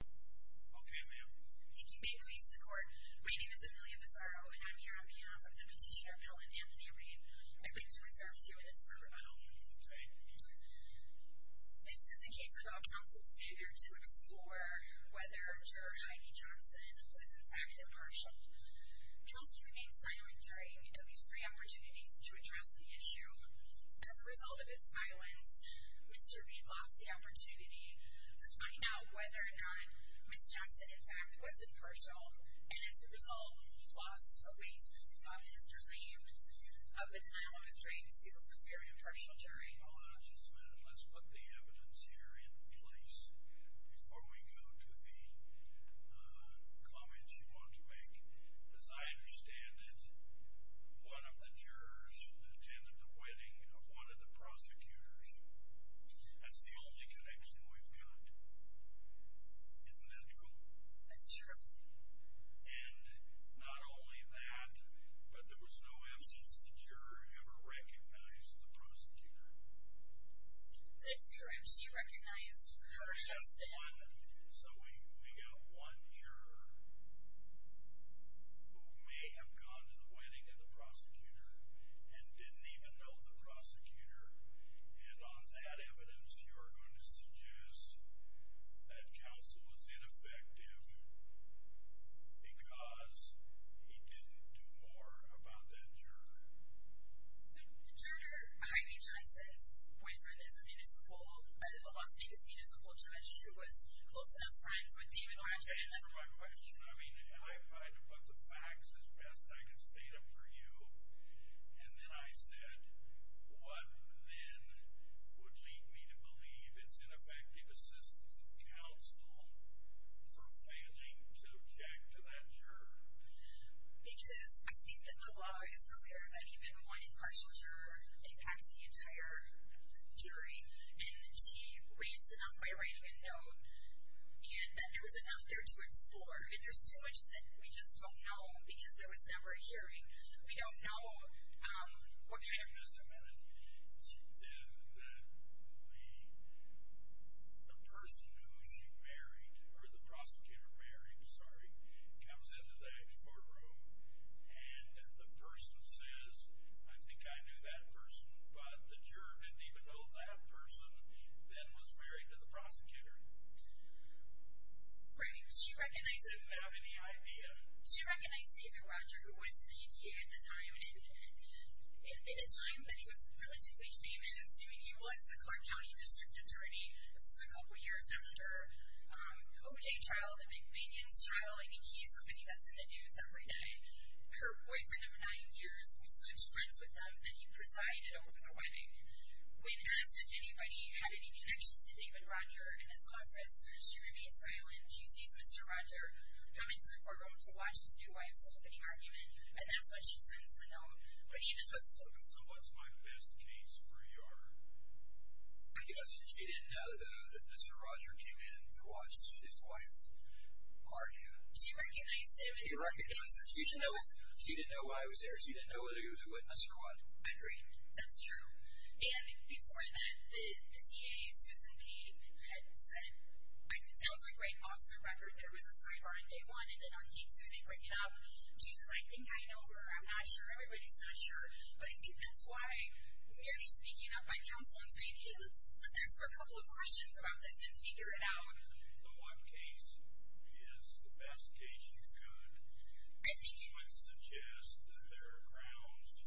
Okay, ma'am. I think you may face the court. My name is Amelia Pissarro, and I'm here on behalf of Deputy Sheriff Helen Anthony Reed. I've been to his servitude, and it's for rebuttal. This is a case about counsel's failure to explore whether Judge Heidi Johnson was, in fact, impartial. Counsel remained silent during these three opportunities to address the issue. As a result of his silence, Mr. Reed lost the opportunity to find out whether or not Ms. Johnson, in fact, was impartial, and as a result, lost the weight of his resume of the time he was ready to prepare an impartial jury. Hold on just a minute. Let's put the evidence here in place. Before we go to the comments you want to make, as I understand it, one of the jurors attended the wedding of one of the prosecutors. That's the only connection we've got. Isn't that true? That's true. And not only that, but there was no evidence the juror ever recognized the prosecutor. That's correct. She recognized her husband. So we got one juror who may have gone to the wedding of the prosecutor and didn't even know the prosecutor. And on that evidence, you are going to suggest that counsel was ineffective because he didn't do more about that juror. The juror behind H.S. Weisbrot is a Los Angeles Municipal Judge who was close enough friends with David Warren. To answer my question, I mean, I tried to put the facts as best I could state them for you, and then I said what then would lead me to believe it's ineffective assistance of counsel for failing to object to that juror. Because I think that the law is clear that even one impartial juror impacts the entire jury. And she raised enough by writing a note and that there was enough there to explore. And there's too much that we just don't know because there was never a hearing. We don't know what kind of... Then the person who she married, or the prosecutor married, sorry, comes into that courtroom and the person says, I think I knew that person, but the juror didn't even know that person then was married to the prosecutor. She didn't have any idea. She recognized David Roger, who was the DA at the time, and at a time that he was relatively famous. I mean, he was the Clark County District Attorney. This was a couple of years after the OJ trial, the big binges trial. I mean, he's somebody that's in the news every day. Her boyfriend of nine years who's such friends with them, and he presided over the wedding. When asked if anybody had any connection to David Roger in his office, she remained silent. She sees Mr. Roger come into the courtroom to watch his new wife's opening argument, and that's when she sends the note, but he doesn't know. So what's my best case for E.R.? I guess she didn't know that Mr. Roger came in to watch his wife's argument. She recognized him. She recognized him. She didn't know why he was there. She didn't know that he was a witness or what. Agreed. That's true. And before that, the DA, Susan P., had said, I think it sounds like right off the record, there was a sidebar on day one, and then on day two they bring it up. She's like, I know her. I'm not sure. Everybody's not sure. But I think that's why, really speaking up by counsel and saying, hey, let's ask her a couple of questions about this and figure it out. The one case is the best case you could. I think it would suggest that there are grounds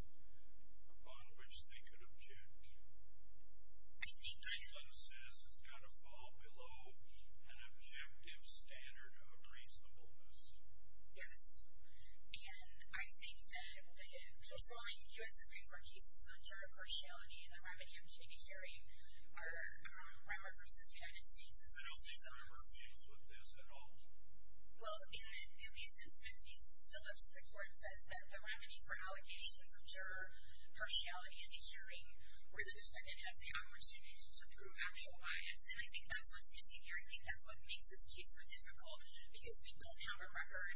upon which they could object. I think that. It says it's got to fall below an objective standard of reasonableness. Yes. And I think that the controlling U.S. Supreme Court cases on juror partiality and the remedy I'm giving in hearing are Romer v. United States. I don't think Romer feels with this at all. Well, in the sentence with Ms. Phillips, the court says that the remedy for allegations of juror partiality is a hearing where the defendant has the opportunity to prove actual bias. And I think that's what's missing here. I think that's what makes this case so difficult, because we don't have a record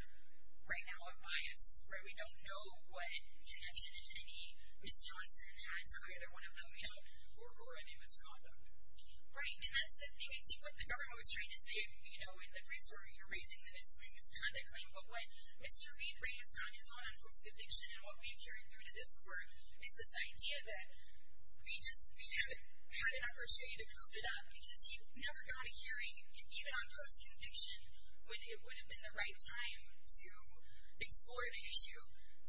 right now of bias, right? We don't know what connection any Ms. Johnson had to either one of them, you know. Or any misconduct. Right. And that's the thing. I think what the government was trying to say, you know, in the case where you're raising the misconduct claim, but what Mr. Reid raised on his own on post-conviction and what we've carried through to this court is this idea that we just haven't had an opportunity to build it up because you never got a hearing, even on post-conviction, when it would have been the right time to explore the issue.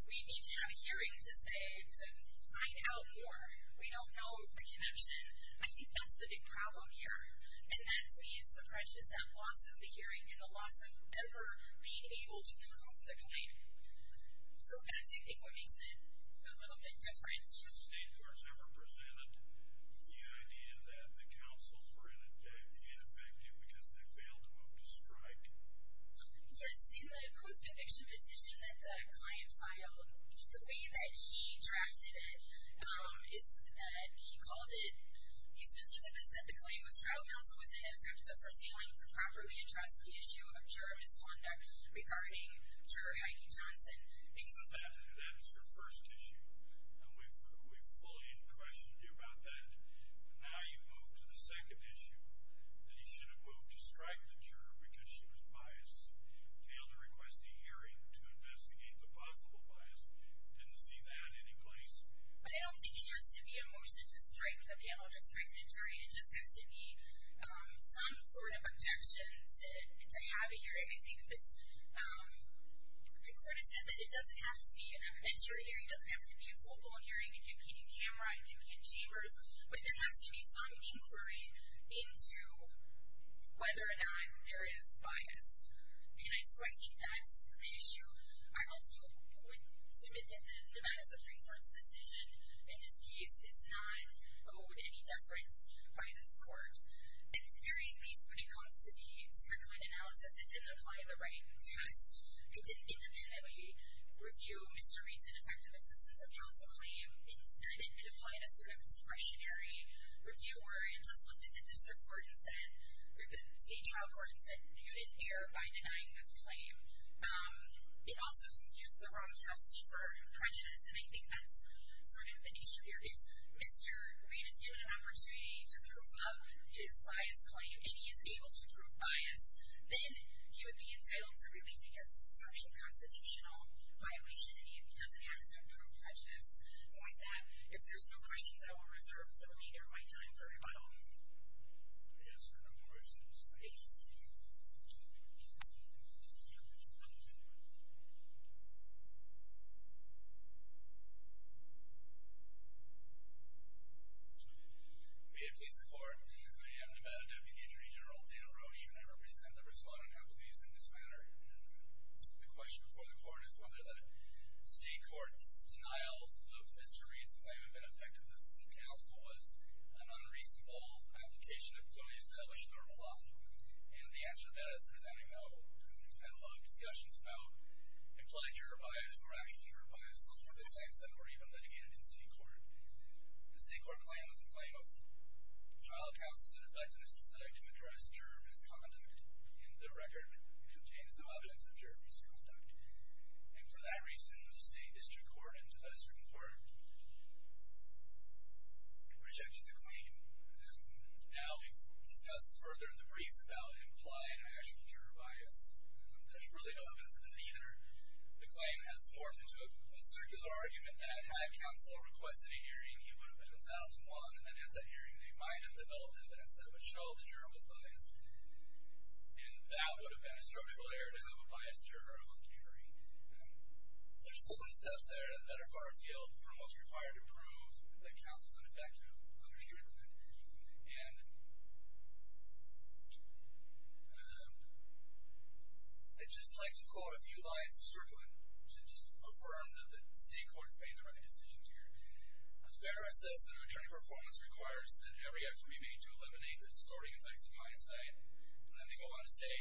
We need to have a hearing to say to find out more. We don't know the connection. I think that's the big problem here. And that, to me, is the prejudice, that loss of the hearing and the loss of ever being able to prove the claim. So that's, I think, what makes it a little bit different. Have state courts ever presented the idea that the counsels were ineffective because they failed to move the strike? Yes, in the post-conviction petition that the client filed, the way that he drafted it is that he called it, he said, Mr. Dennis, that the claim was trial counsel was ineffective for failing to properly address the issue of juror misconduct regarding juror Heidi Johnson. That's your first issue, and we fully questioned you about that. Now you move to the second issue, that he should have moved to strike the juror because she was biased, failed to request a hearing to investigate the possible bias. Didn't see that in any place. But I don't think it has to be a motion to strike the panel to strike the jury. It just has to be some sort of objection to have a hearing. I think the court has said that it doesn't have to be an evidentiary hearing, it doesn't have to be a full-blown hearing, it can be in camera, it can be in chambers, but there has to be some inquiry into whether or not there is bias. And so I think that's the issue. I also would submit that the matters of free court's decision in this case is not owed any deference by this court. At the very least, when it comes to the Strickland analysis, it didn't apply the right test. It didn't intentionally review Mr. Reid's ineffective assistance of counsel claim. Instead, it applied a sort of discretionary review, where it just looked at the district court and said, or the state trial court and said, you did error by denying this claim. It also used the wrong test for prejudice, and I think that's sort of the issue here. If Mr. Reid is given an opportunity to prove up his biased claim, and he is able to prove bias, then he would be entitled to relief because it's a structural constitutional violation, and he doesn't have to prove prejudice. And with that, if there's no questions, I will reserve the remainder of my time for rebuttal. If there are no questions, I will leave the meeting. May it please the Court. I am Nevada Deputy Attorney General Dale Roche, and I represent the respondent appellees in this matter. The question before the Court is whether the state court's denial of Mr. Reid's claim of ineffective assistance of counsel was an unreasonable application of fully established normal law. And the answer to that is presenting a panel of discussions about implied juror bias or actual juror bias, those were the claims that were even litigated in state court. The state court claim is a claim of trial counsels that have died to an issue that I can address, juror misconduct, and the record contains no evidence of juror misconduct. And for that reason, the state district court, in 2005, rejected the claim and now discuss further the briefs about implied and actual juror bias. There's really no evidence of that either. The claim has forced into a circular argument that had counsel requested a hearing, he would have been entitled to one, and at that hearing, they might have developed evidence that Michelle, the juror, was biased, and that would have been a structural error to have a biased juror on the jury. There's all those steps there that are far afield from what's required to prove that counsel's an effective understrictment. And I'd just like to quote a few lines of strickling to just affirm that the state court's made the right decisions here. A fair assessment of attorney performance requires that every effort be made to eliminate the distorting effects of hindsight. And then we go on to say,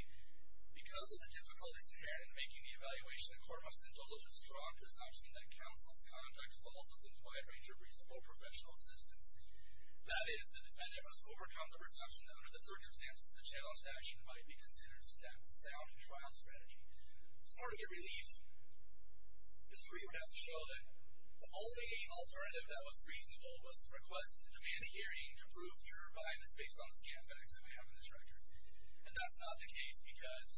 because of the difficulties inherent in making the evaluation, the court must entail a strong presumption that counsel's conduct will also provide a range of reasonable professional assistance. That is, the defendant must overcome the presumption that, under the circumstances of the challenged action, might be considered a sound trial strategy. So in order to get relief, history would have to show that the only alternative that was reasonable was to request a demand hearing to prove juror bias based on the scam facts that we have in this record. And that's not the case, because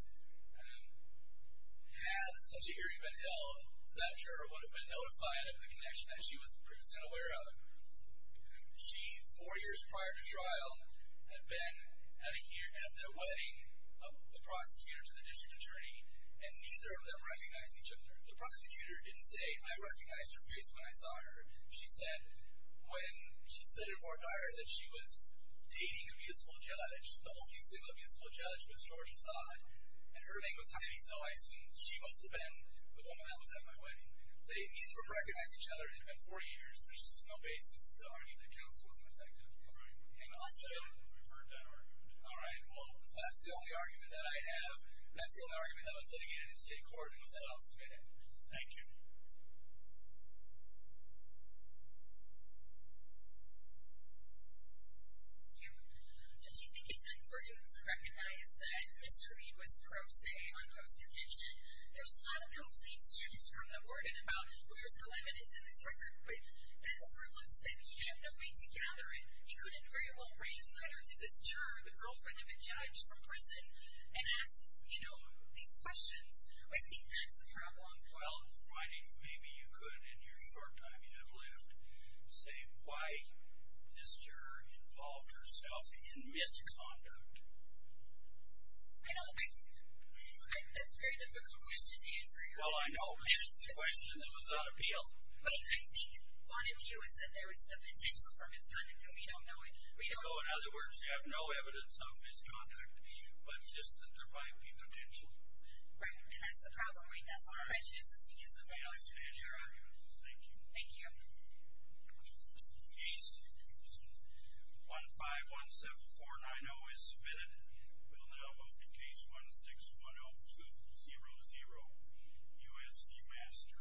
had such a hearing been held, that juror would have been notified of the connection that she was previously unaware of. She, four years prior to trial, had been at the wedding of the prosecutor to the district attorney, and neither of them recognized each other. The prosecutor didn't say, I recognized her face when I saw her. She said, when she said to Vardyar that she was dating a municipal judge, the only single municipal judge was George Asad, and her name was Heidi. So I assume she must have been the woman that was at my wedding. They neither recognized each other. It had been four years. There's just no basis to argue that counsel wasn't effective. All right. We've heard that argument. All right. Well, if that's the only argument that I have, that's the only argument that I was looking at in the state court, it was that I'll submit it. Thank you. Thank you. Did you think it's important to recognize that Mr. Reid was pro se on post-conviction? There's a lot of complaints from the warden about, well, there's no evidence in this record, but that overlooks that he had no way to gather it. Well, I think maybe you could, in your short time you have left, say why this juror involved herself in misconduct. I know. That's a very difficult question to answer. Well, I know. That's the question that was on appeal. I think one of you is that there was the potential for misconduct, and we don't know it. In other words, you have no evidence of misconduct, but just that there might be potential. Right. And that's the problem, right? That's what I'm trying to do is to speak as a judge. May I stand your argument? Thank you. Thank you. Case 1517490 is submitted. We'll now move to case 1610200, USG Master.